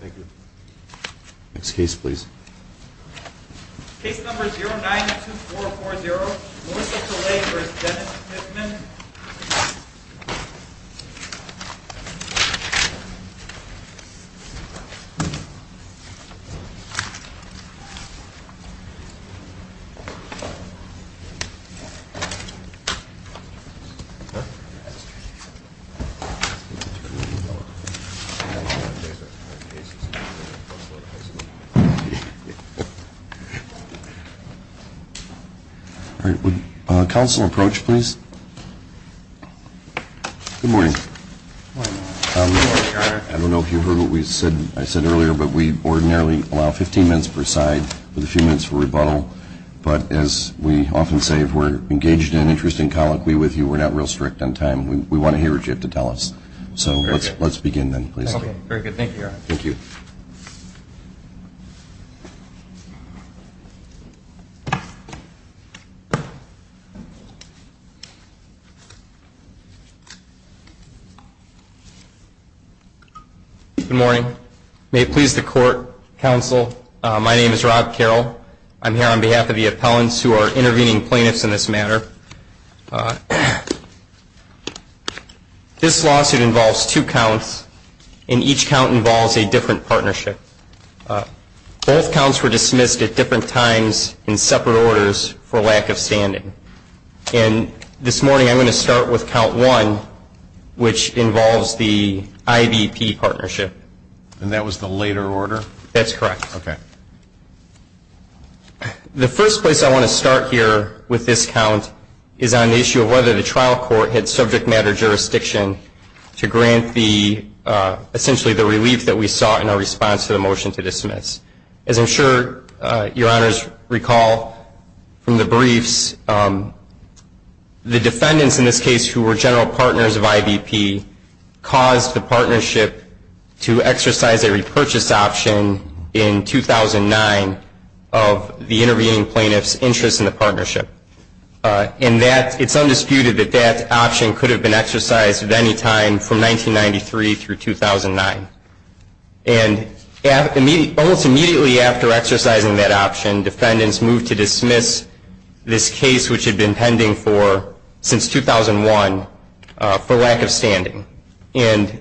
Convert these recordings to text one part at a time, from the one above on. Thank you. Next case please. Case number 092440, Melissa Pielet v. Dennis Hiffman All right, would counsel approach please? Good morning. Good morning, Your Honor. I don't know if you heard what I said earlier, but we ordinarily allow 15 minutes per side with a few minutes for rebuttal. But as we often say, if we're engaged in an interesting colloquy with you, we're not real strict on time. We want to hear what you have to tell us. So let's begin then, please. Very good. Thank you, Your Honor. Thank you. Good morning. May it please the court, counsel, my name is Rob Carroll. I'm here on behalf of the appellants who are intervening plaintiffs in this matter. This lawsuit involves two counts, and each count involves a different partnership. Both counts were dismissed at different times in separate orders for lack of standing. And this morning I'm going to start with count one, which involves the IBP partnership. And that was the later order? That's correct. Okay. The first place I want to start here with this count is on the issue of whether the trial court had subject matter jurisdiction to grant essentially the relief that we sought in our response to the motion to dismiss. As I'm sure Your Honors recall from the briefs, the defendants in this case who were general partners of IBP caused the partnership to exercise a repurchase option in 2009 of the intervening plaintiff's interest in the partnership. And it's undisputed that that option could have been exercised at any time from 1993 through 2009. And almost immediately after exercising that option, defendants moved to dismiss this case, which had been pending since 2001 for lack of standing. And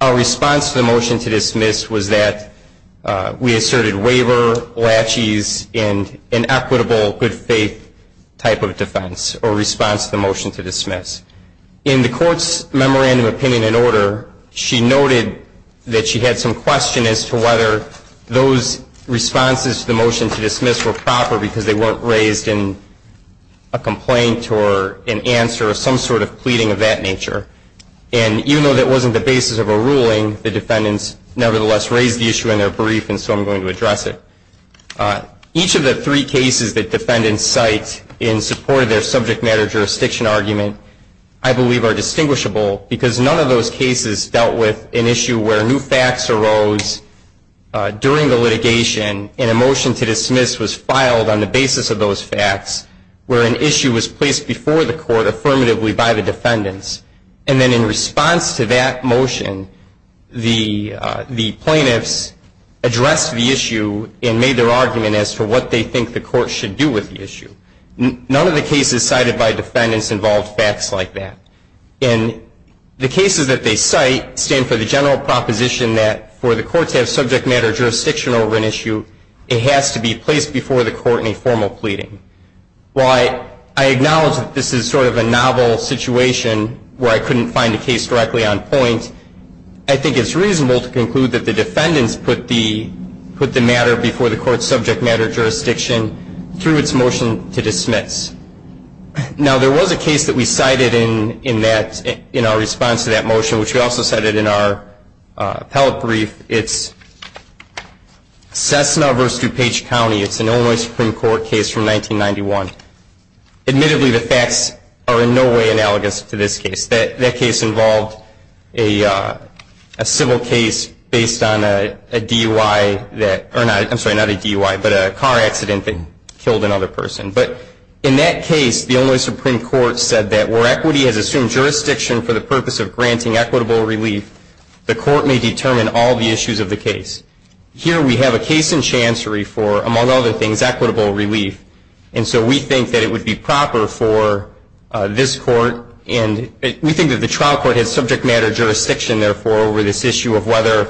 our response to the motion to dismiss was that we asserted waiver, latches, and an equitable good faith type of defense or response to the motion to dismiss. In the court's memorandum of opinion and order, she noted that she had some question as to whether those responses to the motion to dismiss were proper because they weren't raised in a complaint or an answer or some sort of pleading of that nature. And even though that wasn't the basis of a ruling, the defendants nevertheless raised the issue in their brief, and so I'm going to address it. Each of the three cases that defendants cite in support of their subject matter jurisdiction argument I believe are distinguishable because none of those cases dealt with an issue where new facts arose during the litigation and a motion to dismiss was filed on the basis of those facts, where an issue was placed before the court affirmatively by the defendants. And then in response to that motion, the plaintiffs addressed the issue and made their argument as to what they think the court should do with the issue. None of the cases cited by defendants involved facts like that. And the cases that they cite stand for the general proposition that for the court to have subject matter jurisdiction over an issue, it has to be placed before the court in a formal pleading. While I acknowledge that this is sort of a novel situation where I couldn't find a case directly on point, I think it's reasonable to conclude that the defendants put the matter before the court's subject matter jurisdiction through its motion to dismiss. Now, there was a case that we cited in our response to that motion, which we also cited in our appellate brief. It's Cessna v. DuPage County. It's an Illinois Supreme Court case from 1991. Admittedly, the facts are in no way analogous to this case. That case involved a civil case based on a DUI that or not, I'm sorry, not a DUI, but a car accident that killed another person. But in that case, the Illinois Supreme Court said that where equity has assumed jurisdiction for the purpose of granting equitable relief, the court may determine all the issues of the case. Here we have a case in Chancery for, among other things, equitable relief. And so we think that it would be proper for this court, and we think that the trial court has subject matter jurisdiction, therefore, over this issue of whether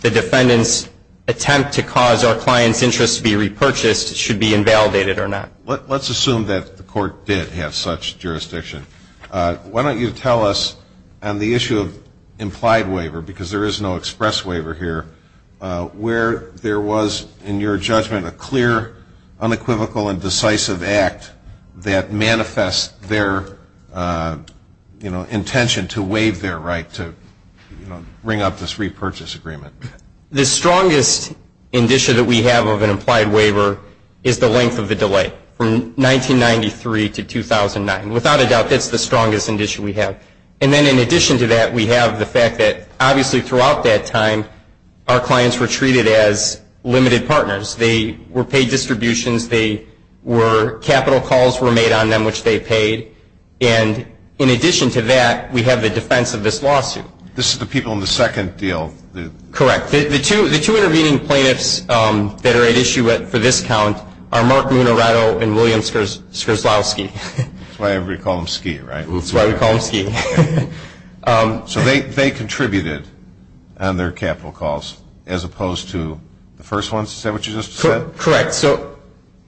the defendant's attempt to cause our client's interest to be repurchased should be invalidated or not. Let's assume that the court did have such jurisdiction. Why don't you tell us on the issue of implied waiver, because there is no express waiver here, where there was, in your judgment, a clear, unequivocal, and decisive act that manifests their intention to waive their right to bring up this repurchase agreement. The strongest inditia that we have of an implied waiver is the length of the delay, from 1993 to 2009. Without a doubt, that's the strongest inditia we have. And then in addition to that, we have the fact that, obviously, throughout that time, our clients were treated as limited partners. They were paid distributions. Capital calls were made on them, which they paid. And in addition to that, we have the defense of this lawsuit. This is the people in the second deal. Correct. The two intervening plaintiffs that are at issue for this count are Mark Munarato and William Skrzlowski. That's why we call them Ski, right? That's why we call them Ski. So they contributed on their capital calls as opposed to the first ones? Is that what you just said? Correct. So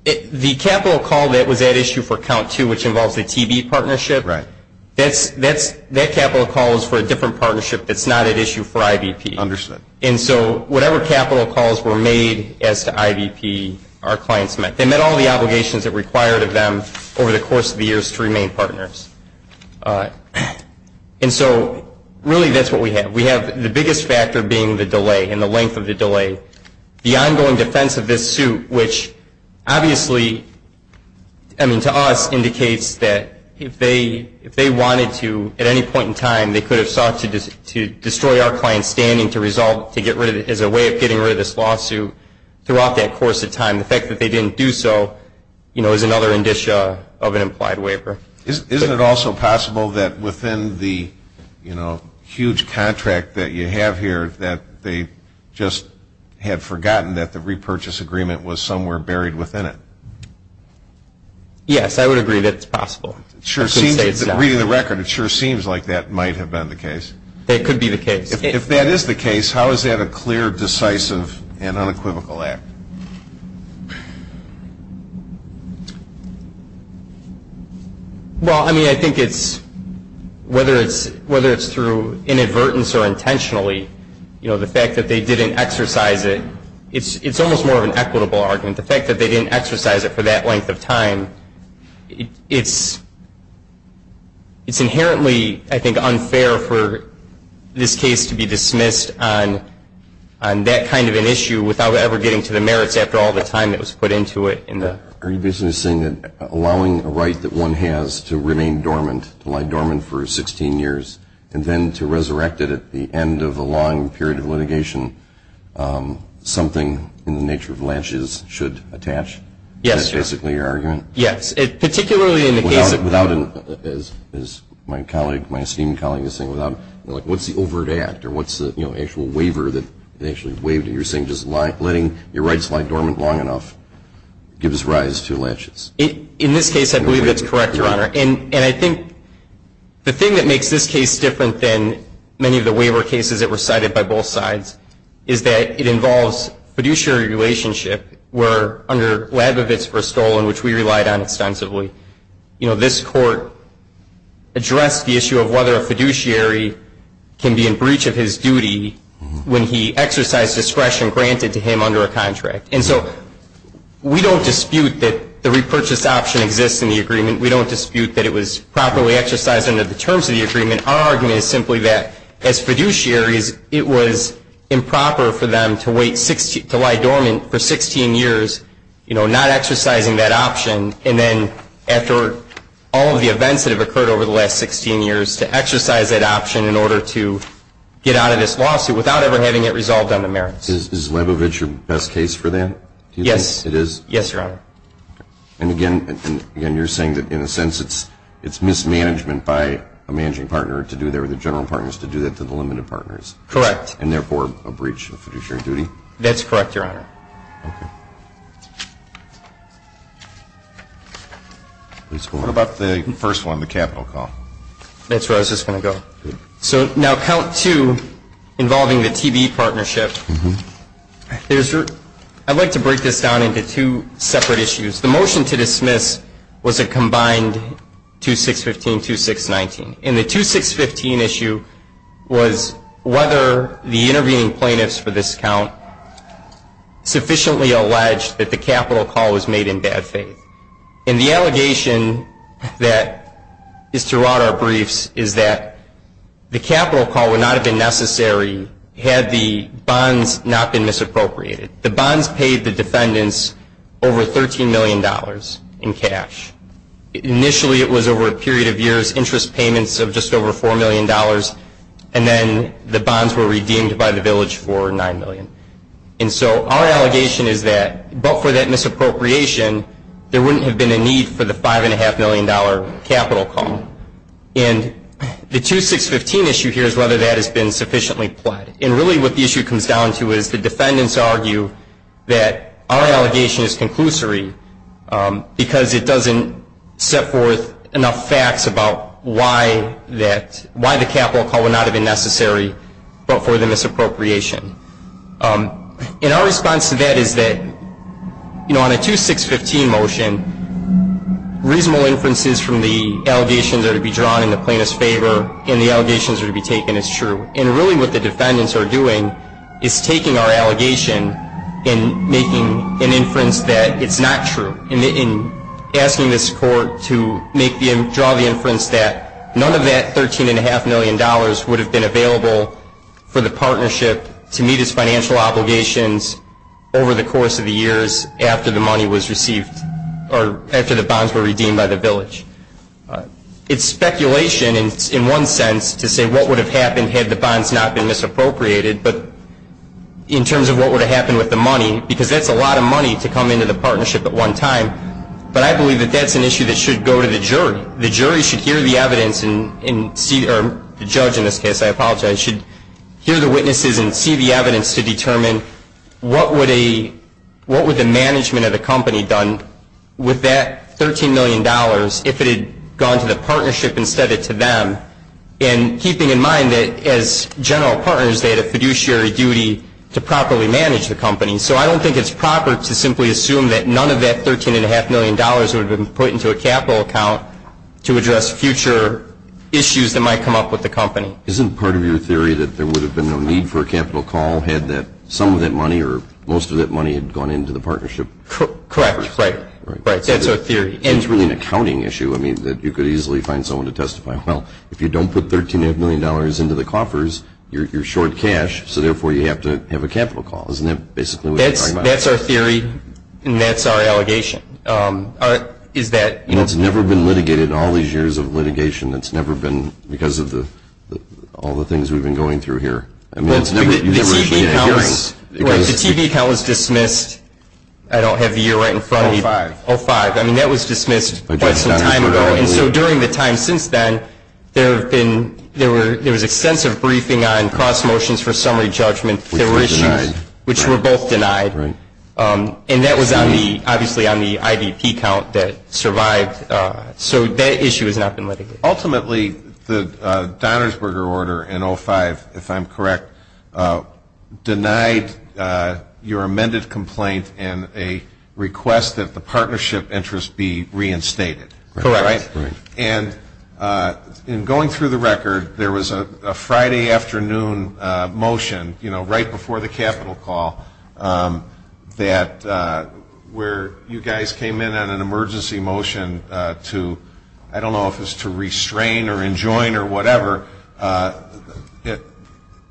the capital call that was at issue for count two, which involves the TB partnership, that capital call is for a different partnership that's not at issue for IVP. Understood. And so whatever capital calls were made as to IVP, our clients met. They met all the obligations that were required of them over the course of the years to remain partners. And so, really, that's what we have. We have the biggest factor being the delay and the length of the delay. The ongoing defense of this suit, which obviously, I mean, to us, indicates that if they wanted to at any point in time, they could have sought to destroy our client's standing to resolve to get rid of it as a way of getting rid of this lawsuit throughout that course of time. The fact that they didn't do so is another indicia of an implied waiver. Isn't it also possible that within the, you know, huge contract that you have here, that they just had forgotten that the repurchase agreement was somewhere buried within it? Yes, I would agree that it's possible. Reading the record, it sure seems like that might have been the case. It could be the case. If that is the case, how is that a clear, decisive, and unequivocal act? Well, I mean, I think it's whether it's through inadvertence or intentionally, you know, the fact that they didn't exercise it, it's almost more of an equitable argument. The fact that they didn't exercise it for that length of time, it's inherently, I think, unfair for this case to be dismissed on that kind of an issue without ever getting to the merits after all the time that was put into it. Are you basically saying that allowing a right that one has to remain dormant, to lie dormant for 16 years, and then to resurrect it at the end of a long period of litigation, something in the nature of ledges should attach? Yes, Your Honor. Is that basically your argument? Yes. Particularly in the case of... Without, as my colleague, my esteemed colleague is saying, without what's the overt act or what's the, you know, actual waiver that they actually waived? You're saying just letting your rights lie dormant long enough gives rise to ledges. In this case, I believe that's correct, Your Honor. And I think the thing that makes this case different than many of the waiver cases that were cited by both sides is that it involves fiduciary relationship where under Labovitz v. Stolen, which we relied on extensively, you know, this court addressed the issue of whether a fiduciary can be in breach of his duty when he exercised discretion granted to him under a contract. And so we don't dispute that the repurchase option exists in the agreement. We don't dispute that it was properly exercised under the terms of the agreement. Our argument is simply that as fiduciaries, it was improper for them to lie dormant for 16 years, you know, not exercising that option, and then after all of the events that have occurred over the last 16 years, to exercise that option in order to get out of this lawsuit without ever having it resolved under merits. Is Labovitz your best case for that? Yes. Do you think it is? Yes, Your Honor. And again, you're saying that in a sense it's mismanagement by a managing partner to do that or the general partners to do that to the limited partners? Correct. And therefore a breach of fiduciary duty? That's correct, Your Honor. Okay. What about the first one, the capital call? That's where I was just going to go. So now count two involving the TBE partnership, I'd like to break this down into two separate issues. The motion to dismiss was a combined 2-615, 2-619. And the 2-615 issue was whether the intervening plaintiffs for this count sufficiently alleged that the capital call was made in bad faith. And the allegation that is throughout our briefs is that the capital call would not have been necessary had the bonds not been misappropriated. The bonds paid the defendants over $13 million in cash. Initially it was over a period of years, interest payments of just over $4 million, and then the bonds were redeemed by the village for $9 million. And so our allegation is that, but for that misappropriation, there wouldn't have been a need for the $5.5 million capital call. And the 2-615 issue here is whether that has been sufficiently pled. And really what the issue comes down to is the defendants argue that our allegation is conclusory because it doesn't set forth enough facts about why the capital call would not have been necessary, but for the misappropriation. And our response to that is that, you know, on a 2-615 motion, reasonable inferences from the allegations are to be drawn in the plaintiff's favor, and the allegations are to be taken as true. And really what the defendants are doing is taking our allegation and making an inference that it's not true, and asking this court to draw the inference that none of that $13.5 million would have been available for the partnership to meet its financial obligations over the course of the years after the money was received, or after the bonds were redeemed by the village. It's speculation in one sense to say what would have happened had the bonds not been misappropriated, but in terms of what would have happened with the money, because that's a lot of money to come into the partnership at one time. But I believe that that's an issue that should go to the jury. The jury should hear the evidence, or the judge in this case, I apologize, should hear the witnesses and see the evidence to determine what would the management of the company have done with that $13 million if it had gone to the partnership instead of to them, and keeping in mind that as general partners they had a fiduciary duty to properly manage the company. So I don't think it's proper to simply assume that none of that $13.5 million would have been put into a capital account to address future issues that might come up with the company. Isn't part of your theory that there would have been no need for a capital call had some of that money or most of that money had gone into the partnership? Correct, right. Right. That's our theory. It's really an accounting issue. I mean, you could easily find someone to testify. Well, if you don't put $13.5 million into the coffers, you're short cash, so therefore you have to have a capital call. Isn't that basically what you're talking about? That's our theory, and that's our allegation. It's never been litigated in all these years of litigation. It's never been because of all the things we've been going through here. The TV account was dismissed, I don't have the year right in front of me. 05. 05. I mean, that was dismissed quite some time ago, and so during the time since then, there was extensive briefing on cross motions for summary judgment. Which were denied. Which were both denied. Right. And that was obviously on the IDP count that survived, so that issue has not been litigated. Ultimately, the Donnersberger order in 05, if I'm correct, denied your amended complaint and a request that the partnership interest be reinstated. Correct. And in going through the record, there was a Friday afternoon motion, you know, right before the capital call that where you guys came in on an emergency motion to, I don't know if it was to restrain or enjoin or whatever.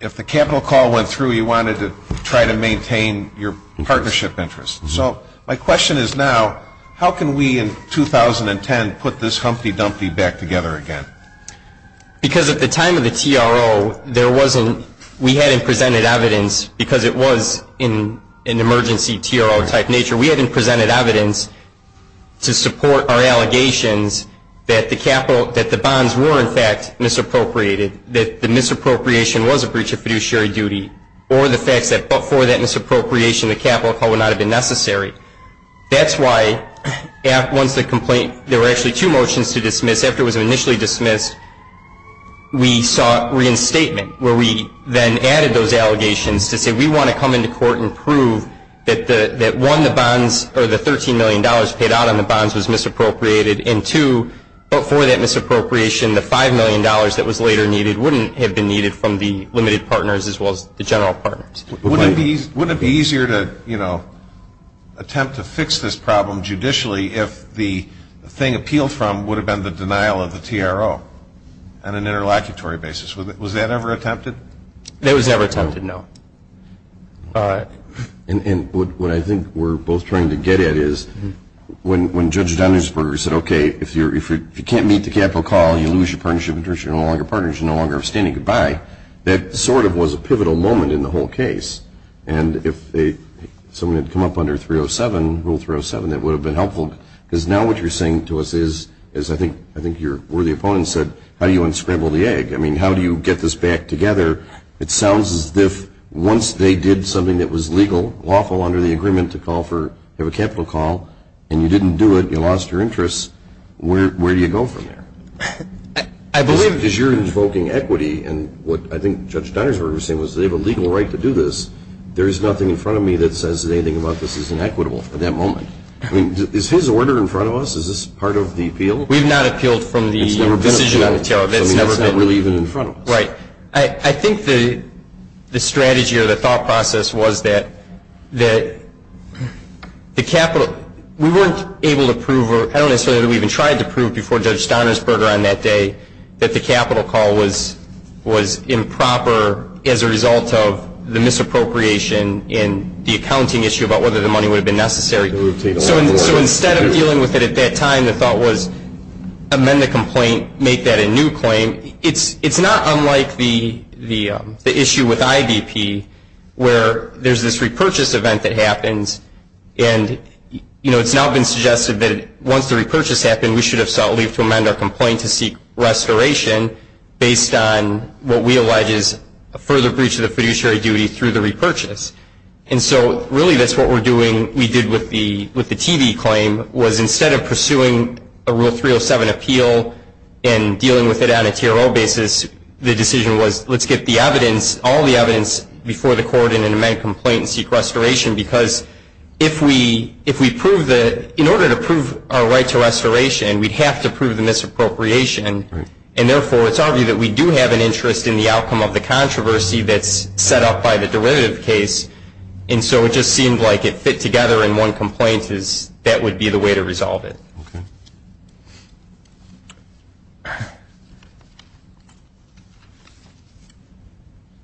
If the capital call went through, you wanted to try to maintain your partnership interest. So my question is now, how can we in 2010 put this humpy dumpy back together again? Because at the time of the TRO, there wasn't, we hadn't presented evidence, because it was in an emergency TRO type nature. We hadn't presented evidence to support our allegations that the capital, that the bonds were, in fact, misappropriated. That the misappropriation was a breach of fiduciary duty. Or the fact that before that misappropriation, the capital call would not have been necessary. That's why once the complaint, there were actually two motions to dismiss. After it was initially dismissed, we saw reinstatement, where we then added those allegations to say we want to come into court and prove that one, the bonds, or the $13 million paid out on the bonds was misappropriated. And two, before that misappropriation, the $5 million that was later needed wouldn't have been needed from the limited partners as well as the general partners. Wouldn't it be easier to, you know, attempt to fix this problem judicially if the thing appealed from would have been the denial of the TRO on an interlocutory basis? Was that ever attempted? That was never attempted, no. All right. And what I think we're both trying to get at is when Judge Donisberger said, okay, if you can't meet the capital call, you lose your partnership, you're no longer partners, you're no longer standing by, that sort of was a pivotal moment in the whole case. And if someone had come up under 307, Rule 307, that would have been helpful. Because now what you're saying to us is, as I think your worthy opponent said, how do you unscramble the egg? I mean, how do you get this back together? It sounds as if once they did something that was legal, lawful under the agreement to call for a capital call, and you didn't do it, you lost your interest, where do you go from there? I believe – Because you're invoking equity, and what I think Judge Donisberger was saying was they have a legal right to do this. There is nothing in front of me that says anything about this is inequitable at that moment. I mean, is his order in front of us? Is this part of the appeal? We've not appealed from the decision on the TRO. It's never been appealed, so it's not really even in front of us. Right. I think the strategy or the thought process was that the capital – we weren't able to prove – I don't necessarily think we even tried to prove before Judge Donisberger on that day that the capital call was improper as a result of the misappropriation and the accounting issue about whether the money would have been necessary. So instead of dealing with it at that time, the thought was amend the complaint, make that a new claim. It's not unlike the issue with IBP where there's this repurchase event that happens, and it's now been suggested that once the repurchase happened, we should have sought leave to amend our complaint to seek restoration based on what we allege is a further breach of the fiduciary duty through the repurchase. And so really that's what we're doing – we did with the TV claim was instead of pursuing a Rule 307 appeal and dealing with it on a TRO basis, the decision was let's get the evidence, all the evidence before the court and amend complaint and seek restoration because if we prove the – in order to prove our right to restoration, we'd have to prove the misappropriation. And therefore, it's argued that we do have an interest in the outcome of the controversy that's set up by the derivative case. And so it just seemed like it fit together in one complaint. That would be the way to resolve it. Okay.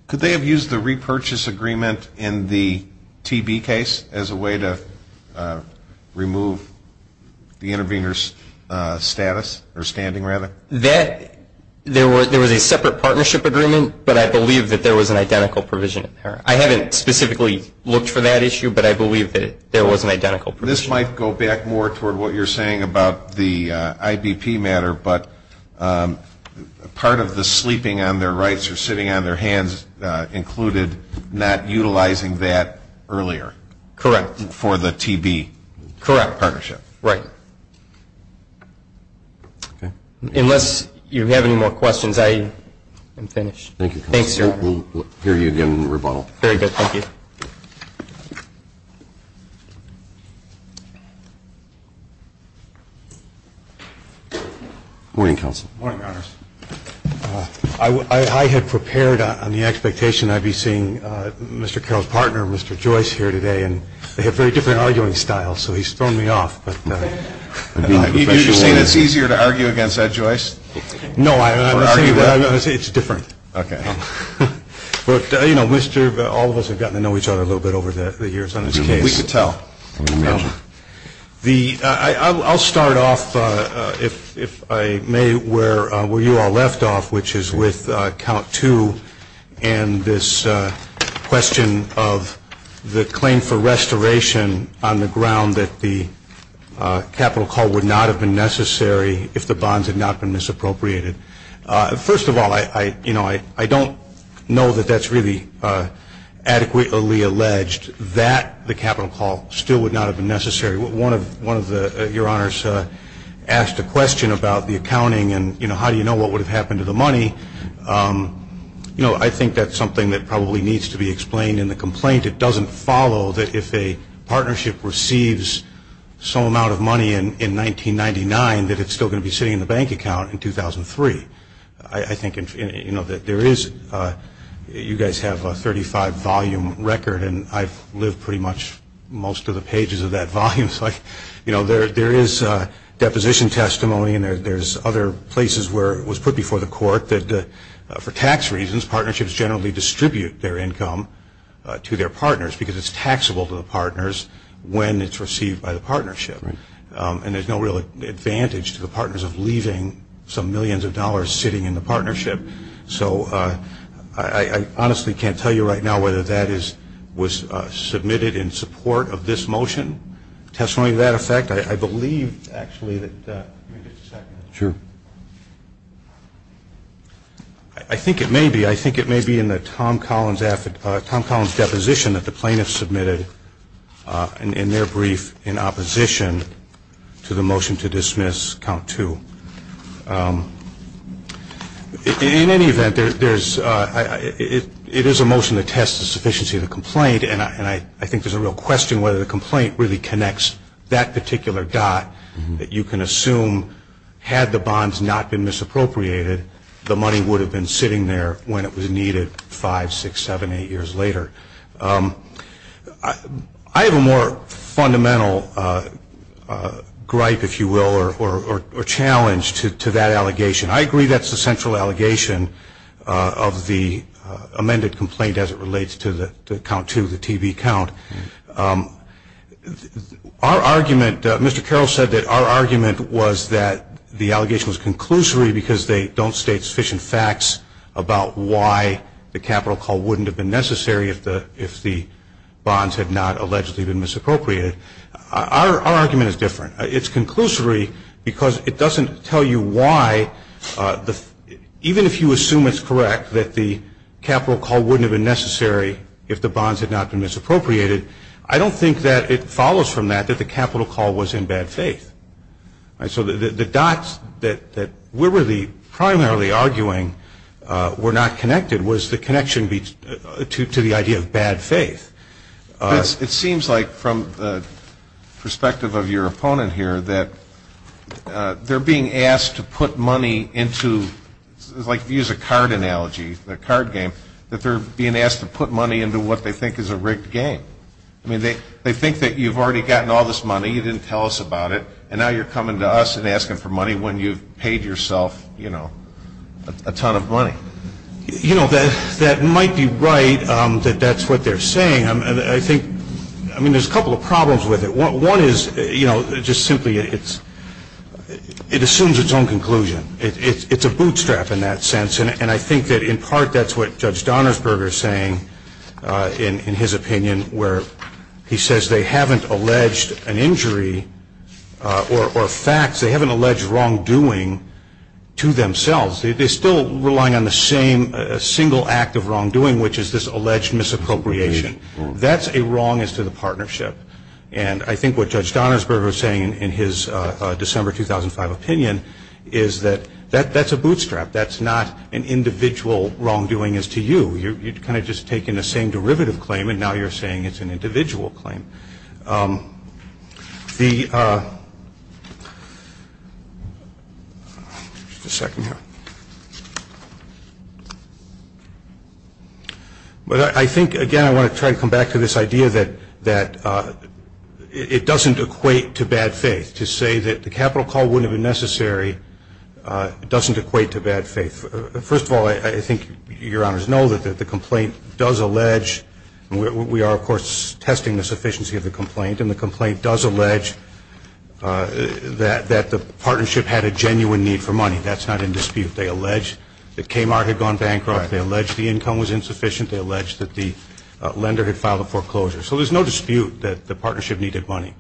Could they have used the repurchase agreement in the TB case as a way to remove the intervener's status or standing rather? That – there was a separate partnership agreement, but I believe that there was an identical provision there. I haven't specifically looked for that issue, but I believe that there was an identical provision. This might go back more toward what you're saying about the IBP matter, but part of the sleeping on their rights or sitting on their hands included not utilizing that earlier. Correct. For the TB partnership. Correct. Right. Okay. Unless you have any more questions, I am finished. Thank you, counsel. Thanks, sir. We'll hear you again in rebuttal. Very good. Thank you. Morning, counsel. Morning, Your Honors. I had prepared on the expectation I'd be seeing Mr. Carroll's partner, Mr. Joyce, here today, and they have very different arguing styles, so he's thrown me off. You're saying it's easier to argue against that, Joyce? No, I'm saying it's different. Okay. But, you know, all of us have gotten to know each other a little bit over the years on this case. We can tell. I'll start off, if I may, where you all left off, which is with count two and this question of the claim for restoration on the ground that the capital call would not have been necessary if the bonds had not been misappropriated. First of all, you know, I don't know that that's really adequately alleged, that the capital call still would not have been necessary. One of your honors asked a question about the accounting and, you know, how do you know what would have happened to the money. You know, I think that's something that probably needs to be explained in the complaint. It doesn't follow that if a partnership receives some amount of money in 1999 that it's still going to be sitting in the bank account in 2003. I think, you know, that there is you guys have a 35-volume record, and I've lived pretty much most of the pages of that volume. So, you know, there is deposition testimony and there's other places where it was put before the court that for tax reasons partnerships generally distribute their income to their partners because it's taxable to the partners when it's received by the partnership. Right. And there's no real advantage to the partners of leaving some millions of dollars sitting in the partnership. So I honestly can't tell you right now whether that was submitted in support of this motion, testimony to that effect. I believe, actually, that let me get a second. Sure. I think it may be. I think it may be in the Tom Collins deposition that the plaintiffs submitted in their brief in opposition to the motion to dismiss count two. In any event, it is a motion to test the sufficiency of the complaint, and I think there's a real question whether the complaint really connects that particular dot that you can assume had the bonds not been misappropriated the money would have been sitting there when it was needed five, six, seven, eight years later. I have a more fundamental gripe, if you will, or challenge to that allegation. I agree that's the central allegation of the amended complaint as it relates to count two, the TB count. Our argument, Mr. Carroll said that our argument was that the allegation was conclusory because they don't state sufficient facts about why the capital call wouldn't have been necessary if the bonds had not allegedly been misappropriated. Our argument is different. It's conclusory because it doesn't tell you why, even if you assume it's correct that the capital call wouldn't have been necessary if the bonds had not been misappropriated, I don't think that it follows from that that the capital call was in bad faith. So the dots that we're really primarily arguing were not connected was the connection to the idea of bad faith. It seems like from the perspective of your opponent here that they're being asked to put money into, like if you use a card analogy, a card game, that they're being asked to put money into what they think is a rigged game. I mean, they think that you've already gotten all this money, you didn't tell us about it, and now you're coming to us and asking for money when you've paid yourself, you know, a ton of money. You know, that might be right that that's what they're saying. I mean, there's a couple of problems with it. One is, you know, just simply it assumes its own conclusion. It's a bootstrap in that sense. And I think that in part that's what Judge Donnersberger is saying in his opinion where he says they haven't alleged an injury or facts, they haven't alleged wrongdoing to themselves. They're still relying on the same single act of wrongdoing, which is this alleged misappropriation. That's a wrong as to the partnership. And I think what Judge Donnersberger is saying in his December 2005 opinion is that that's a bootstrap. That's not an individual wrongdoing as to you. You've kind of just taken the same derivative claim and now you're saying it's an individual claim. The second one. But I think, again, I want to try to come back to this idea that that it doesn't equate to bad faith, to say that the capital call wouldn't have been necessary doesn't equate to bad faith. First of all, I think Your Honors know that the complaint does allege, and we are, of course, testing the sufficiency of the complaint, and the complaint does allege that the partnership had a genuine need for money. That's not in dispute. They allege that Kmart had gone bankrupt. They allege the income was insufficient. They allege that the lender had filed a foreclosure. So there's no dispute that the partnership needed money.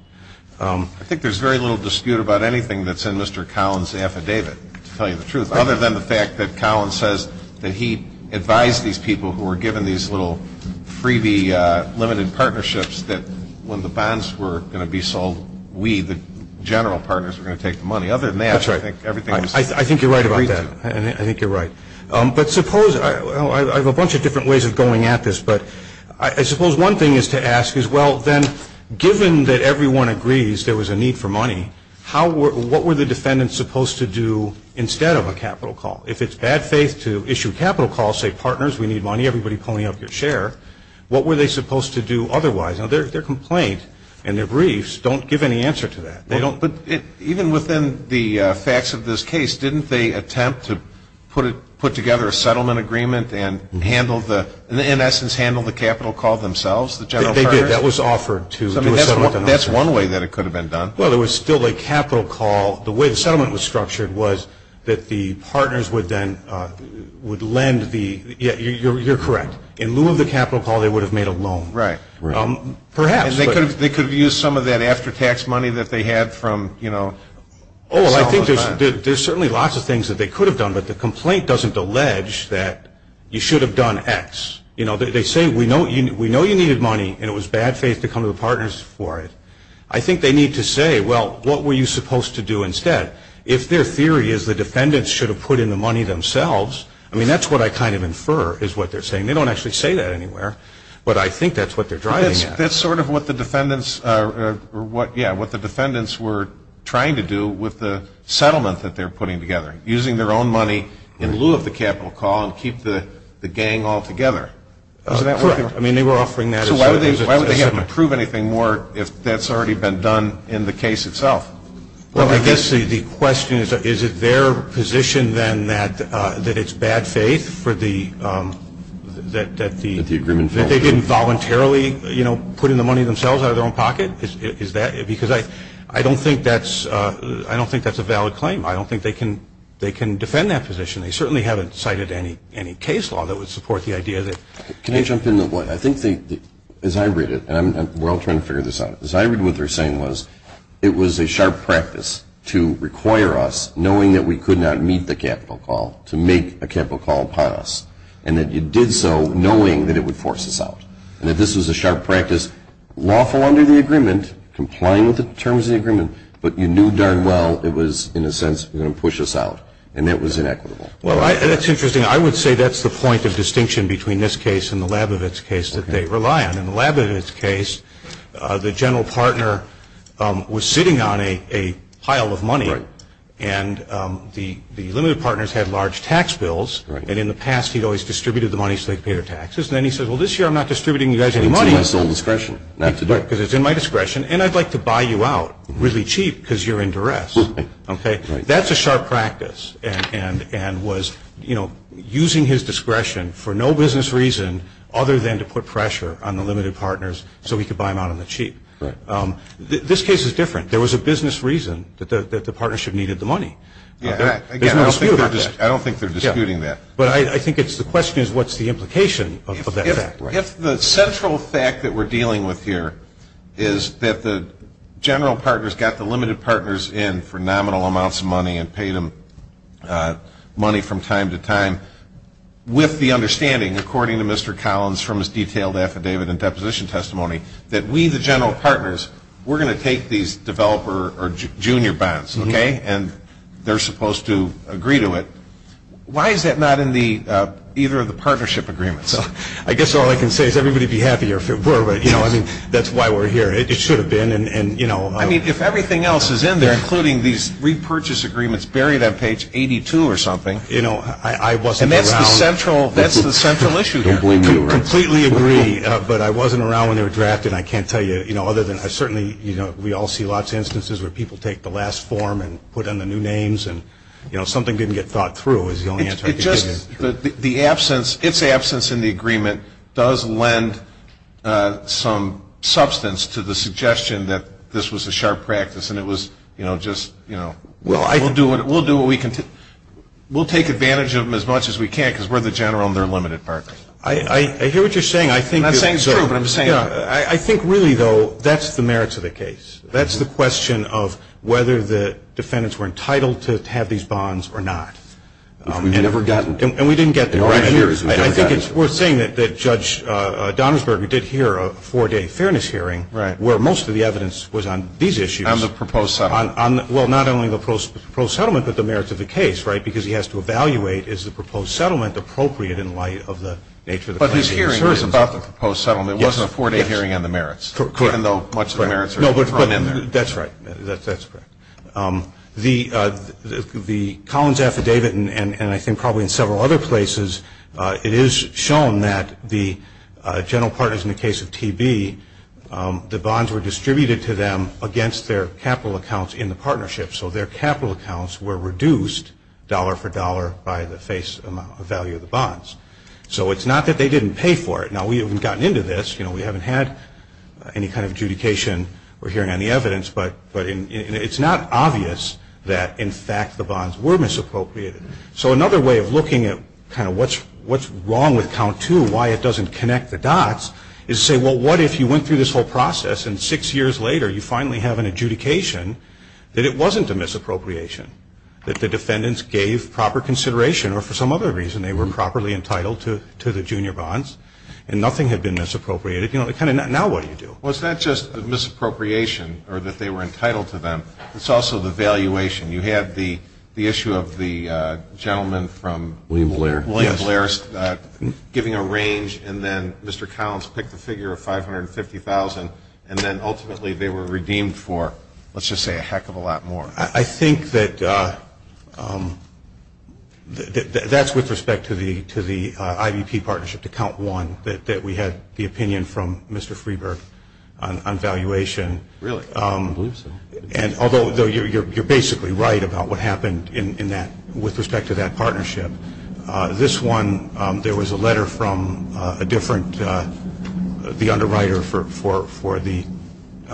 I think there's very little dispute about anything that's in Mr. Collins' affidavit, to tell you the truth, other than the fact that Collins says that he advised these people who were given these little freebie limited partnerships that when the bonds were going to be sold, we, the general partners, were going to take the money. Other than that, I think everything was agreed to. That's right. I think you're right about that. I think you're right. But suppose, I have a bunch of different ways of going at this, but I suppose one thing is to ask is, well, then, given that everyone agrees there was a need for money, what were the defendants supposed to do instead of a capital call? If it's bad faith to issue capital calls, say, partners, we need money, everybody pony up your share, what were they supposed to do otherwise? Now, their complaint and their briefs don't give any answer to that. But even within the facts of this case, didn't they attempt to put together a settlement agreement and in essence handle the capital call themselves, the general partners? They did. That was offered to do a settlement. That's one way that it could have been done. Well, there was still a capital call. The way the settlement was structured was that the partners would then lend the – you're correct. In lieu of the capital call, they would have made a loan. Right. Perhaps. And they could have used some of that after-tax money that they had from, you know – Oh, I think there's certainly lots of things that they could have done, but the complaint doesn't allege that you should have done X. You know, they say, we know you needed money and it was bad faith to come to the partners for it. I think they need to say, well, what were you supposed to do instead? If their theory is the defendants should have put in the money themselves, I mean, that's what I kind of infer is what they're saying. They don't actually say that anywhere, but I think that's what they're driving at. That's sort of what the defendants – yeah, what the defendants were trying to do with the settlement that they're putting together, using their own money in lieu of the capital call and keep the gang all together. Isn't that right? I mean, they were offering that as a settlement. I don't think they can prove anything more if that's already been done in the case itself. Well, I guess the question is, is it their position then that it's bad faith for the – That the agreement failed. That they didn't voluntarily, you know, put in the money themselves out of their own pocket? Is that – because I don't think that's a valid claim. I don't think they can defend that position. They certainly haven't cited any case law that would support the idea that – Can I jump in? I think as I read it, and we're all trying to figure this out, as I read what they're saying was it was a sharp practice to require us, knowing that we could not meet the capital call, to make a capital call upon us, and that you did so knowing that it would force us out. And that this was a sharp practice, lawful under the agreement, complying with the terms of the agreement, but you knew darn well it was, in a sense, going to push us out, and that was inequitable. Well, that's interesting. I would say that's the point of distinction between this case and the Labovitz case that they rely on. In the Labovitz case, the general partner was sitting on a pile of money. Right. And the limited partners had large tax bills. Right. And in the past he'd always distributed the money so they could pay their taxes. And then he says, well, this year I'm not distributing you guys any money. It's in my sole discretion not to do it. Because it's in my discretion. And I'd like to buy you out really cheap because you're in duress. Right. Okay? Right. So that's a sharp practice and was, you know, using his discretion for no business reason other than to put pressure on the limited partners so he could buy them out on the cheap. Right. This case is different. There was a business reason that the partnership needed the money. There's no dispute about that. I don't think they're disputing that. But I think the question is what's the implication of that fact. If the central fact that we're dealing with here is that the general partners got the limited partners in for nominal amounts of money and paid them money from time to time with the understanding, according to Mr. Collins from his detailed affidavit and deposition testimony, that we, the general partners, we're going to take these developer or junior bonds. Okay? And they're supposed to agree to it. Why is that not in either of the partnership agreements? I guess all I can say is everybody would be happier if it were. But, you know, I mean, that's why we're here. It should have been. I mean, if everything else is in there, including these repurchase agreements buried on page 82 or something. You know, I wasn't around. And that's the central issue here. Completely agree. But I wasn't around when they were drafted. I can't tell you, you know, other than I certainly, you know, we all see lots of instances where people take the last form and put in the new names and, you know, something didn't get thought through is the only answer I can give you. The absence, its absence in the agreement does lend some substance to the suggestion that this was a sharp practice. And it was, you know, just, you know, we'll do what we can. We'll take advantage of them as much as we can because we're the general and they're limited partners. I hear what you're saying. I'm not saying it's true, but I'm saying it. I think really, though, that's the merits of the case. That's the question of whether the defendants were entitled to have these bonds or not. And we didn't get that. I think it's worth saying that Judge Donnersberger did hear a four-day fairness hearing where most of the evidence was on these issues. On the proposed settlement. Well, not only the proposed settlement but the merits of the case, right, because he has to evaluate is the proposed settlement appropriate in light of the nature of the claim. But his hearing was about the proposed settlement. It wasn't a four-day hearing on the merits. Correct. Even though much of the merits are thrown in there. That's right. That's correct. The Collins Affidavit and I think probably in several other places, it is shown that the general partners in the case of TB, the bonds were distributed to them against their capital accounts in the partnership. So their capital accounts were reduced dollar for dollar by the face value of the bonds. So it's not that they didn't pay for it. Now, we haven't gotten into this. We haven't had any kind of adjudication. We're hearing on the evidence. But it's not obvious that, in fact, the bonds were misappropriated. So another way of looking at kind of what's wrong with count two, why it doesn't connect the dots, is to say, well, what if you went through this whole process and six years later you finally have an adjudication that it wasn't a misappropriation, that the defendants gave proper consideration or, for some other reason, they were properly entitled to the junior bonds and nothing had been misappropriated. You know, kind of now what do you do? Well, it's not just a misappropriation or that they were entitled to them. It's also the valuation. You have the issue of the gentleman from William Blair giving a range and then Mr. Collins picked the figure of $550,000 and then ultimately they were redeemed for, let's just say, a heck of a lot more. I think that that's with respect to the IVP partnership to count one, that we had the opinion from Mr. Freeburg on valuation. Really? I believe so. Although you're basically right about what happened with respect to that partnership. This one, there was a letter from a different, the underwriter for the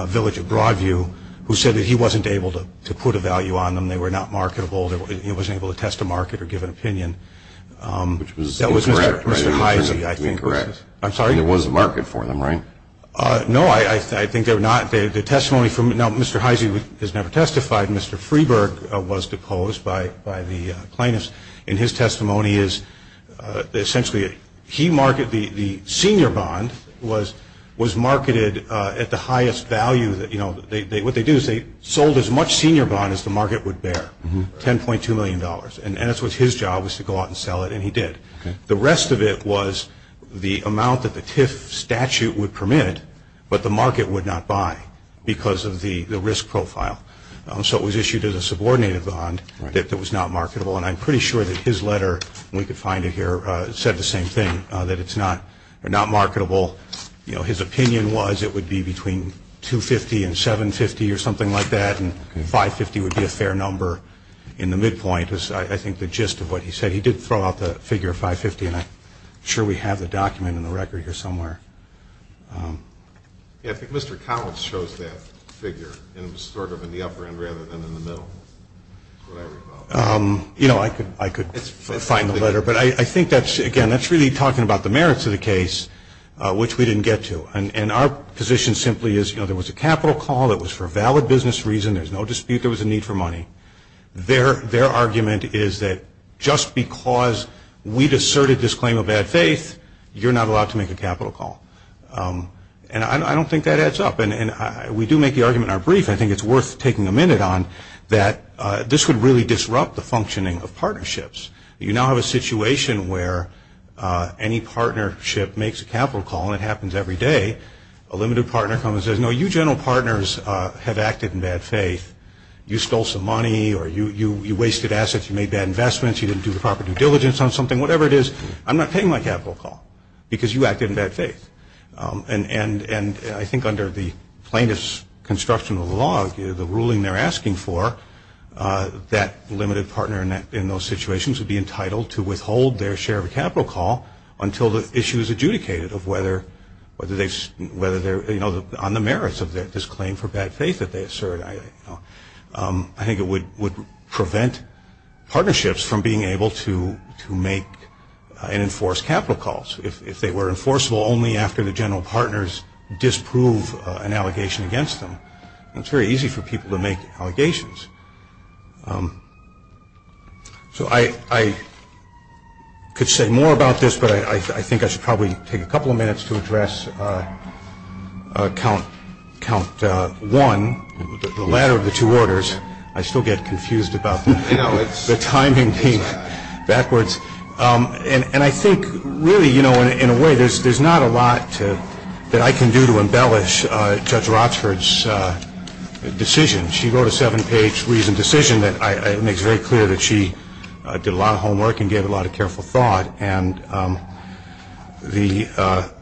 Village of Broadview, who said that he wasn't able to put a value on them. They were not marketable. He wasn't able to test a market or give an opinion. Which was incorrect. Mr. Heise, I think. Incorrect. I'm sorry? There was a market for them, right? No, I think there were not. The testimony from, now Mr. Heise has never testified. Mr. Freeburg was deposed by the plaintiffs. And his testimony is essentially he marketed, the senior bond was marketed at the highest value. What they do is they sold as much senior bond as the market would bear, $10.2 million. And that's what his job was to go out and sell it, and he did. The rest of it was the amount that the TIF statute would permit, but the market would not buy because of the risk profile. So it was issued as a subordinated bond that was not marketable. And I'm pretty sure that his letter, we could find it here, said the same thing, that it's not marketable. You know, his opinion was it would be between $250 and $750 or something like that, and $550 would be a fair number in the midpoint is, I think, the gist of what he said. He did throw out the figure of $550, and I'm sure we have the document in the record here somewhere. Yeah, I think Mr. Collins chose that figure, and it was sort of in the upper end rather than in the middle, is what I recall. You know, I could find the letter. But I think that's, again, that's really talking about the merits of the case, which we didn't get to. And our position simply is, you know, there was a capital call. It was for valid business reason. There was no dispute there was a need for money. Their argument is that just because we'd asserted this claim of bad faith, you're not allowed to make a capital call. And I don't think that adds up. And we do make the argument in our brief, I think it's worth taking a minute on, that this would really disrupt the functioning of partnerships. You now have a situation where any partnership makes a capital call, and it happens every day. A limited partner comes and says, no, you general partners have acted in bad faith. You stole some money or you wasted assets. You made bad investments. You didn't do the proper due diligence on something. Whatever it is, I'm not paying my capital call because you acted in bad faith. And I think under the plaintiff's construction of the law, the ruling they're asking for, that limited partner in those situations would be entitled to withhold their share of a capital call until the issue is adjudicated of whether they're on the merits of this claim for bad faith that they assert. I think it would prevent partnerships from being able to make and enforce capital calls. If they were enforceable only after the general partners disprove an allegation against them, it's very easy for people to make allegations. So I could say more about this, but I think I should probably take a couple of minutes to address count one, the latter of the two orders. I still get confused about the timing being backwards. And I think really, you know, in a way, there's not a lot that I can do to embellish Judge Rotsford's decision. She wrote a seven-page reasoned decision that makes it very clear that she did a lot of homework and gave a lot of careful thought. And the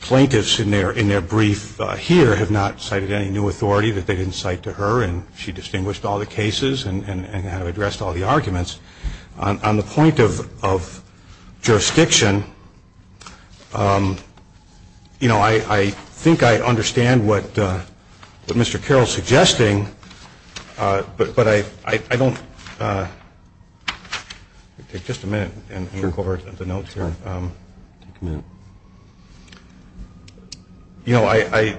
plaintiffs in their brief here have not cited any new authority that they didn't cite to her, and she distinguished all the cases and addressed all the arguments. On the point of jurisdiction, you know, I think I understand what Mr. Carroll is suggesting, but I don't ‑‑ I'll take just a minute and look over the notes here. You know, I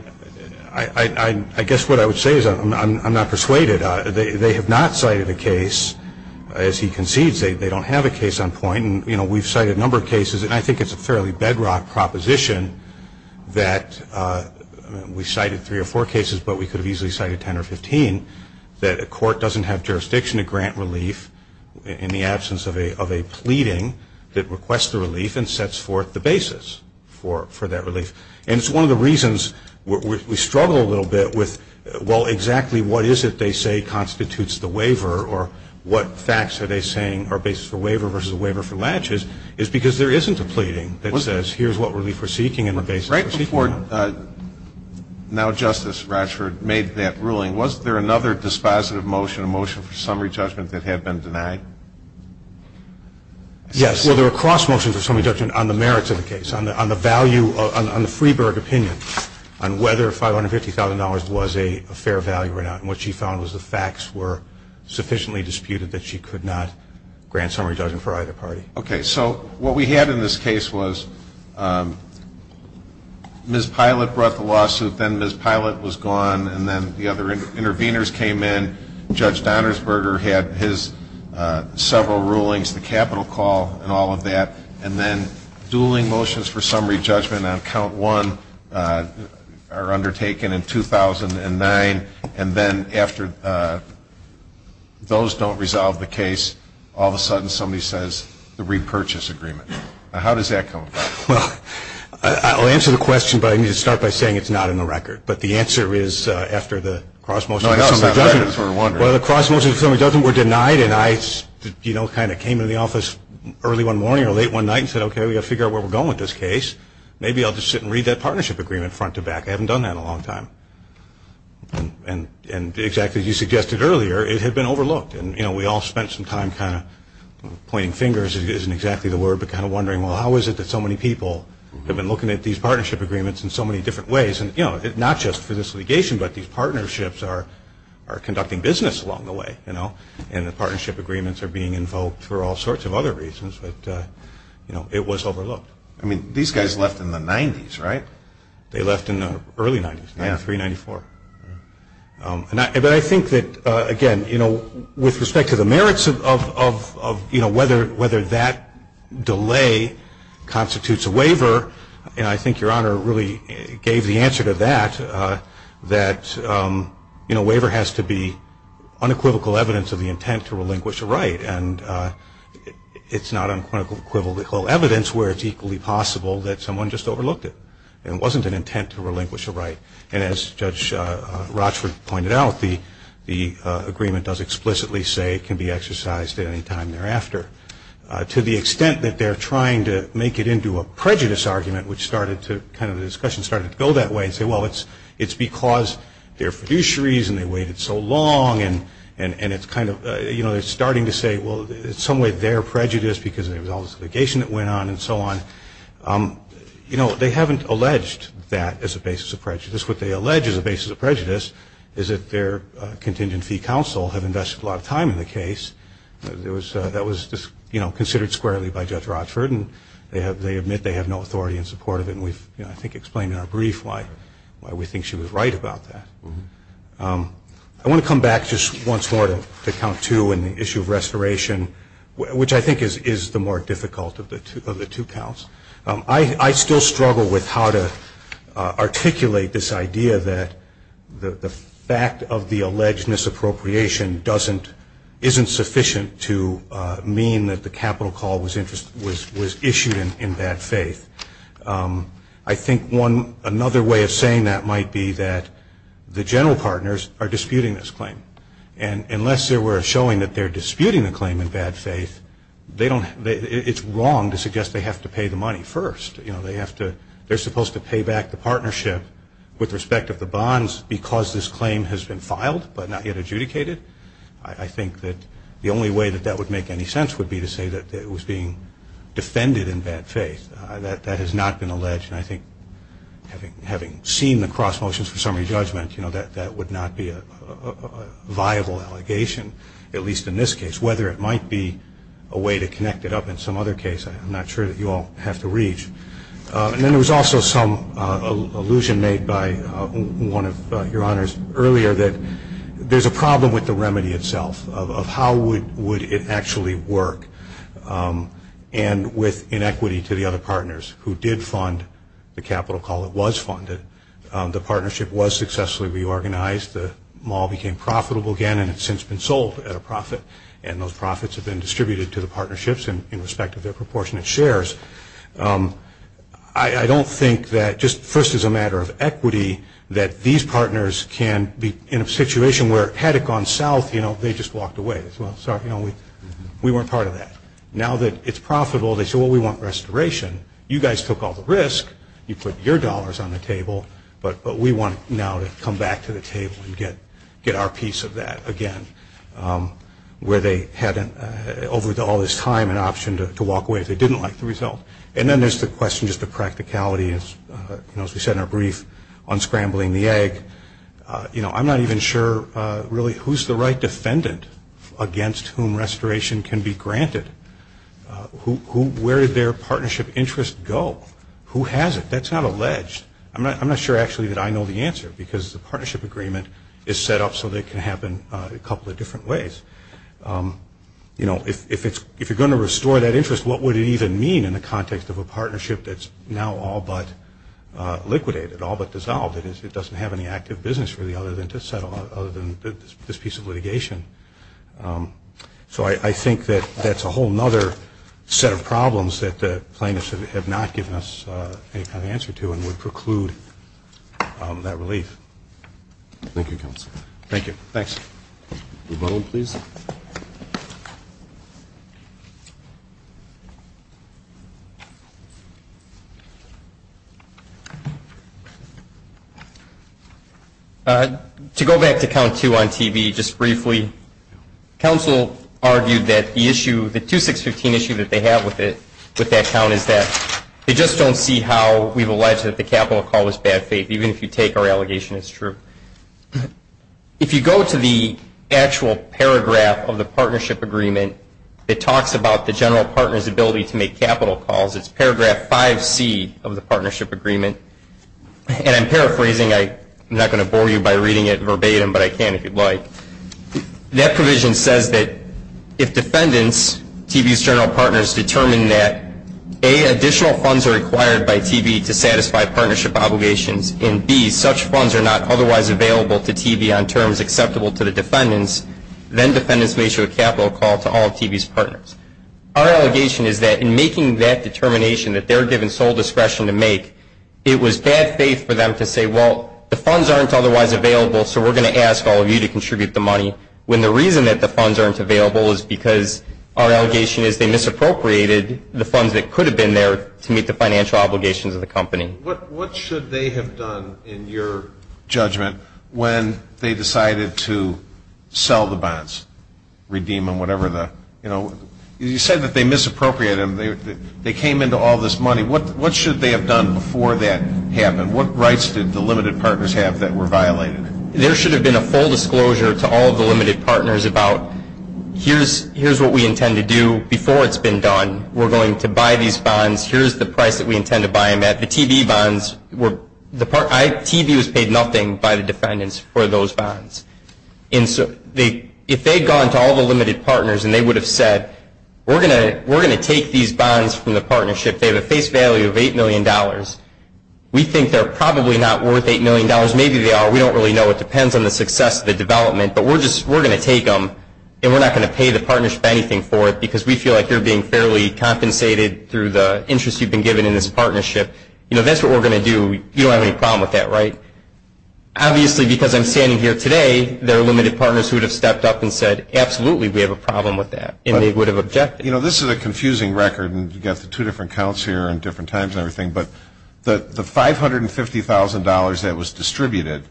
guess what I would say is I'm not persuaded. They have not cited a case. As he concedes, they don't have a case on point. And, you know, we've cited a number of cases, and I think it's a fairly bedrock proposition that we cited three or four cases, but we could have easily cited 10 or 15 that a court doesn't have jurisdiction to grant relief in the absence of a pleading that requests the relief and sets forth the basis for that relief. And it's one of the reasons we struggle a little bit with, well, exactly what is it they say constitutes the waiver or what facts are they saying are basis for waiver versus waiver for latches, is because there isn't a pleading that says here's what relief we're seeking and the basis for seeking it. Right before now Justice Rochford made that ruling, was there another dispositive motion, a motion for summary judgment, that had been denied? Yes. Well, there were cross motions for summary judgment on the merits of the case, on the value, on the Freeberg opinion, on whether $550,000 was a fair value or not. And what she found was the facts were sufficiently disputed that she could not grant summary judgment for either party. Okay. So what we had in this case was Ms. Pilot brought the lawsuit, then Ms. Pilot was gone, and then the other interveners came in. Judge Donnersberger had his several rulings, the capital call and all of that, and then dueling motions for summary judgment on count one are undertaken in 2009, and then after those don't resolve the case, all of a sudden somebody says the repurchase agreement. How does that come about? Well, I'll answer the question, but I need to start by saying it's not in the record. Well, the cross motions for summary judgment were denied, and I kind of came into the office early one morning or late one night and said, okay, we've got to figure out where we're going with this case. Maybe I'll just sit and read that partnership agreement front to back. I haven't done that in a long time. And exactly as you suggested earlier, it had been overlooked, and we all spent some time kind of pointing fingers, isn't exactly the word, but kind of wondering, well, how is it that so many people have been looking at these partnership agreements in so many different ways, and not just for this litigation, but these partnerships are conducting business along the way, you know, and the partnership agreements are being invoked for all sorts of other reasons, but, you know, it was overlooked. I mean, these guys left in the 90s, right? They left in the early 90s, 93, 94. But I think that, again, you know, with respect to the merits of, you know, whether that delay constitutes a waiver, and I think Your Honor really gave the answer to that, that, you know, a waiver has to be unequivocal evidence of the intent to relinquish a right, and it's not unequivocal evidence where it's equally possible that someone just overlooked it and it wasn't an intent to relinquish a right. And as Judge Rochford pointed out, the agreement does explicitly say it can be exercised at any time thereafter. To the extent that they're trying to make it into a prejudice argument, which started to kind of the discussion started to go that way and say, well, it's because they're fiduciaries and they waited so long, and it's kind of, you know, they're starting to say, well, in some way they're prejudiced because there was all this litigation that went on and so on. You know, they haven't alleged that as a basis of prejudice. What they allege as a basis of prejudice is that their contingent fee counsel have invested a lot of time in the case. That was considered squarely by Judge Rochford, and they admit they have no authority in support of it, and we've, I think, explained in our brief why we think she was right about that. I want to come back just once more to count two and the issue of restoration, which I think is the more difficult of the two counts. I still struggle with how to articulate this idea that the fact of the alleged misappropriation isn't sufficient to mean that the capital call was issued in bad faith. I think another way of saying that might be that the general partners are disputing this claim, and unless they were showing that they're disputing the claim in bad faith, it's wrong to suggest they have to pay the money first. You know, they're supposed to pay back the partnership with respect of the bonds because this claim has been filed but not yet adjudicated. I think that the only way that that would make any sense would be to say that it was being defended in bad faith. That has not been alleged, and I think having seen the cross motions for summary judgment, you know, that that would not be a viable allegation, at least in this case. Whether it might be a way to connect it up in some other case, I'm not sure that you all have to reach. And then there was also some allusion made by one of your honors earlier that there's a problem with the remedy itself, of how would it actually work, and with inequity to the other partners who did fund the capital call that was funded. The partnership was successfully reorganized. The mall became profitable again, and it's since been sold at a profit, and those profits have been distributed to the partnerships in respect of their proportionate shares. I don't think that just first as a matter of equity that these partners can be in a situation where, had it gone south, you know, they just walked away. Well, sorry, you know, we weren't part of that. Now that it's profitable, they say, well, we want restoration. You guys took all the risk. You put your dollars on the table, but we want now to come back to the table and get our piece of that again. Where they had, over all this time, an option to walk away if they didn't like the result. And then there's the question, just the practicality, as we said in our brief on scrambling the egg. You know, I'm not even sure really who's the right defendant against whom restoration can be granted. Where did their partnership interest go? Who has it? That's not alleged. I'm not sure actually that I know the answer, because the partnership agreement is set up so that it can happen a couple of different ways. You know, if you're going to restore that interest, what would it even mean in the context of a partnership that's now all but liquidated, all but dissolved? It doesn't have any active business really other than this piece of litigation. So I think that that's a whole other set of problems that the plaintiffs have not given us any kind of answer to and would preclude that relief. Thank you, Counsel. Thank you. Thanks. To go back to Count 2 on TB, just briefly, counsel argued that the issue, the 2615 issue that they have with it, with that count, is that they just don't see how we've alleged that the capital call was bad faith, even if you take our allegation as true. If you go to the actual paragraph of the partnership agreement, it talks about the general partner's ability to make capital calls. It's paragraph 5C of the partnership agreement. And I'm paraphrasing. I'm not going to bore you by reading it verbatim, but I can if you'd like. That provision says that if defendants, TB's general partners, determine that A, additional funds are required by TB to satisfy partnership obligations, and B, such funds are not otherwise available to TB on terms acceptable to the defendants, then defendants may issue a capital call to all of TB's partners. Our allegation is that in making that determination that they're given sole discretion to make, it was bad faith for them to say, well, the funds aren't otherwise available, so we're going to ask all of you to contribute the money, when the reason that the funds aren't available is because our allegation is they misappropriated the funds that could have been there to meet the financial obligations of the company. What should they have done, in your judgment, when they decided to sell the bonds, redeem them, whatever the, you know, you said that they misappropriated them. They came into all this money. What should they have done before that happened? And what rights did the limited partners have that were violated? There should have been a full disclosure to all of the limited partners about, here's what we intend to do before it's been done. We're going to buy these bonds. Here's the price that we intend to buy them at. The TB bonds were, TB was paid nothing by the defendants for those bonds. If they had gone to all the limited partners and they would have said, we're going to take these bonds from the partnership, they have a face value of $8 million, we think they're probably not worth $8 million. Maybe they are. We don't really know. It depends on the success of the development. But we're going to take them, and we're not going to pay the partnership anything for it because we feel like they're being fairly compensated through the interest you've been given in this partnership. You know, that's what we're going to do. You don't have any problem with that, right? Obviously, because I'm standing here today, there are limited partners who would have stepped up and said, absolutely, we have a problem with that, and they would have objected. You know, this is a confusing record, and you've got the two different counts here and different times and everything, but the $550,000 that was distributed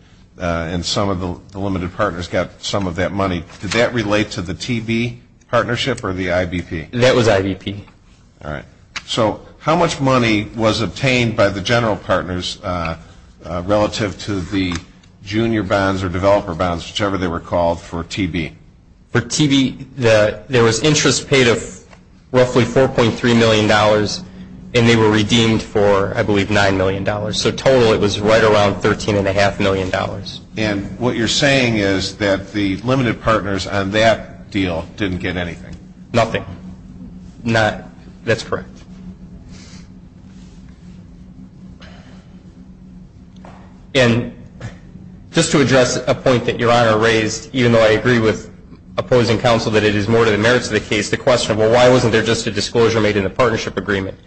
and some of the limited partners got some of that money, did that relate to the TB partnership or the IBP? That was IBP. All right. So how much money was obtained by the general partners relative to the junior bonds or developer bonds, whichever they were called, for TB? For TB, there was interest paid of roughly $4.3 million, and they were redeemed for, I believe, $9 million. So total, it was right around $13.5 million. And what you're saying is that the limited partners on that deal didn't get anything? Nothing. That's correct. And just to address a point that Your Honor raised, even though I agree with opposing counsel that it is more to the merits of the case, the question of, well, why wasn't there just a disclosure made in the partnership agreement?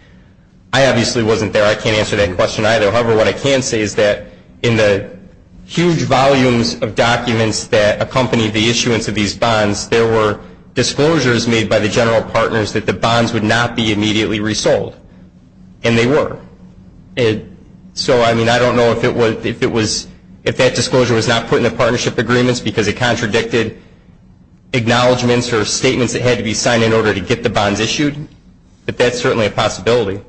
I obviously wasn't there. I can't answer that question either. However, what I can say is that in the huge volumes of documents that accompanied the issuance of these bonds, there were disclosures made by the general partners that the bonds would not be immediately received and they were. So, I mean, I don't know if that disclosure was not put in the partnership agreements because it contradicted acknowledgments or statements that had to be signed in order to get the bonds issued, but that's certainly a possibility.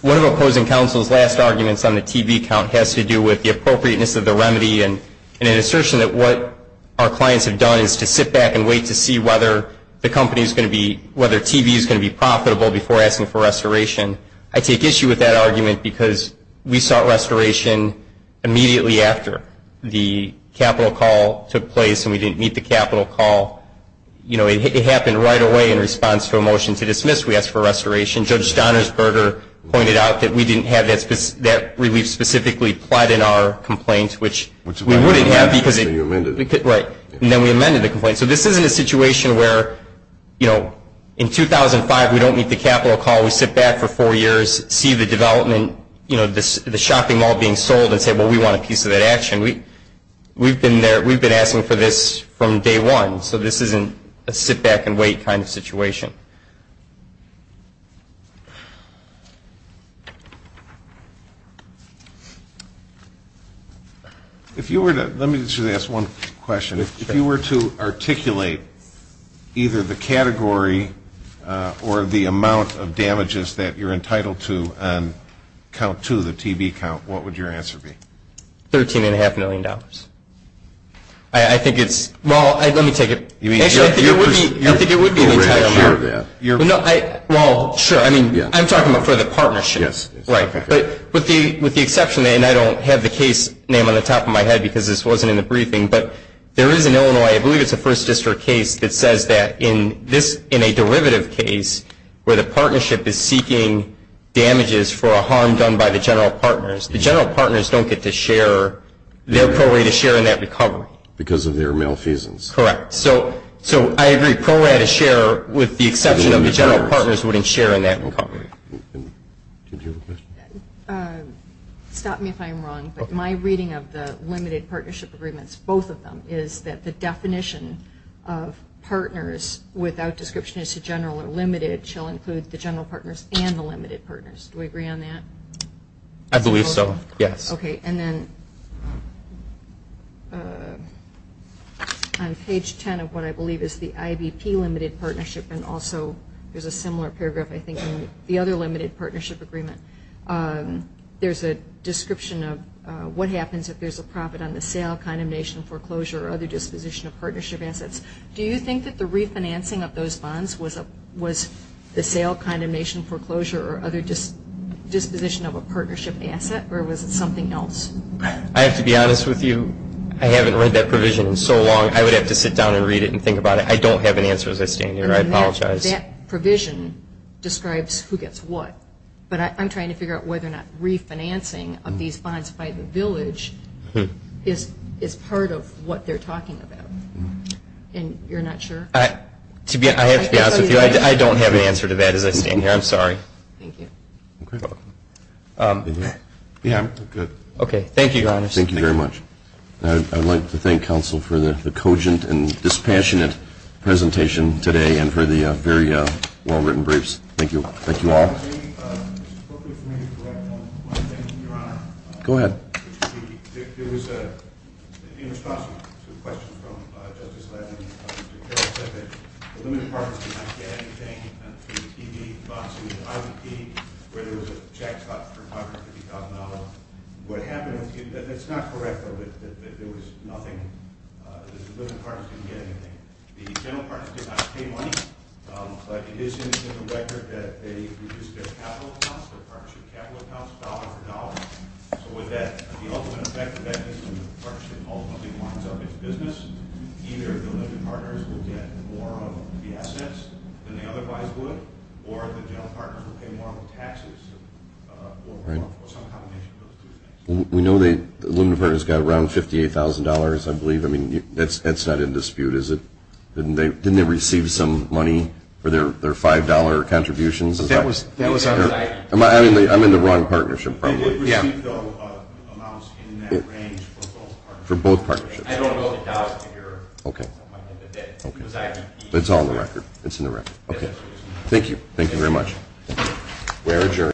One of opposing counsel's last arguments on the TB count has to do with the appropriateness of the remedy and an assertion that what our clients have done is to sit back and wait to see whether the company is going to be, whether TB is going to be profitable before asking for restoration. I take issue with that argument because we sought restoration immediately after the capital call took place and we didn't meet the capital call. You know, it happened right away in response to a motion to dismiss. We asked for restoration. Judge Donnersberger pointed out that we didn't have that relief specifically applied in our complaint, which we wouldn't have because it, right, and then we amended the complaint. So this isn't a situation where, you know, in 2005 we don't meet the capital call, we sit back for four years, see the development, you know, the shopping mall being sold and say, well, we want a piece of that action. We've been there. We've been asking for this from day one. So this isn't a sit back and wait kind of situation. If you were to, let me just ask one question. If you were to articulate either the category or the amount of damages that you're entitled to on count two, the TB count, what would your answer be? $13.5 million. I think it's, well, let me take it. Actually, I think it would be the entire amount. Well, sure, I mean, I'm talking about for the partnership. Yes. Right. But with the exception, and I don't have the case name on the top of my head because this wasn't in the briefing, but there is an Illinois, I believe it's a first district case that says that in this, in a derivative case where the partnership is seeking damages for a harm done by the general partners, the general partners don't get to share their pro rata share in that recovery. Because of their malfeasance. Correct. So I agree, pro rata share with the exception of the general partners wouldn't share in that recovery. Stop me if I'm wrong, but my reading of the limited partnership agreements, both of them, is that the definition of partners without description as a general or limited shall include the general partners and the limited partners. Do we agree on that? I believe so, yes. Okay. And then on page 10 of what I believe is the IBP limited partnership, and also there's a similar paragraph, I think, in the other limited partnership agreement, there's a description of what happens if there's a profit on the sale, condemnation, foreclosure, or other disposition of partnership assets. Do you think that the refinancing of those bonds was the sale, condemnation, foreclosure, or other disposition of a partnership asset, or was it something else? I have to be honest with you, I haven't read that provision in so long, I would have to sit down and read it and think about it. I don't have an answer as I stand here. I apologize. That provision describes who gets what. But I'm trying to figure out whether or not refinancing of these bonds by the village is part of what they're talking about. And you're not sure? I have to be honest with you, I don't have an answer to that as I stand here. I'm sorry. Thank you. Thank you, Your Honor. Thank you very much. I'd like to thank counsel for the cogent and dispassionate presentation today and for the very well-written briefs. Thank you all. If it's appropriate for me to correct one thing, Your Honor. Go ahead. It was in response to a question from Justice Ladman. Mr. Carroll said that the limited partners did not get anything, and the TV box in the IVP where there was a jackpot for $550,000. What happened was, it's not correct, though, that there was nothing, the limited partners didn't get anything. The general partners did not pay money, but it is in the record that they reduced their capital accounts, their partnership capital accounts dollar for dollar. So with that, the ultimate effect of that is the partnership ultimately winds up in business. Either the limited partners will get more of the assets than they otherwise would, or the general partners will pay more of the taxes or some combination of those two things. We know the limited partners got around $58,000, I believe. I mean, that's not in dispute, is it? Didn't they receive some money for their $5 contributions? That was on the record. I'm in the wrong partnership, probably. They did receive, though, amounts in that range for both partners. For both partnerships. I don't know the dollar figure. Okay. It's on the record. It's in the record. Okay. Thank you. Thank you very much. We are adjourned.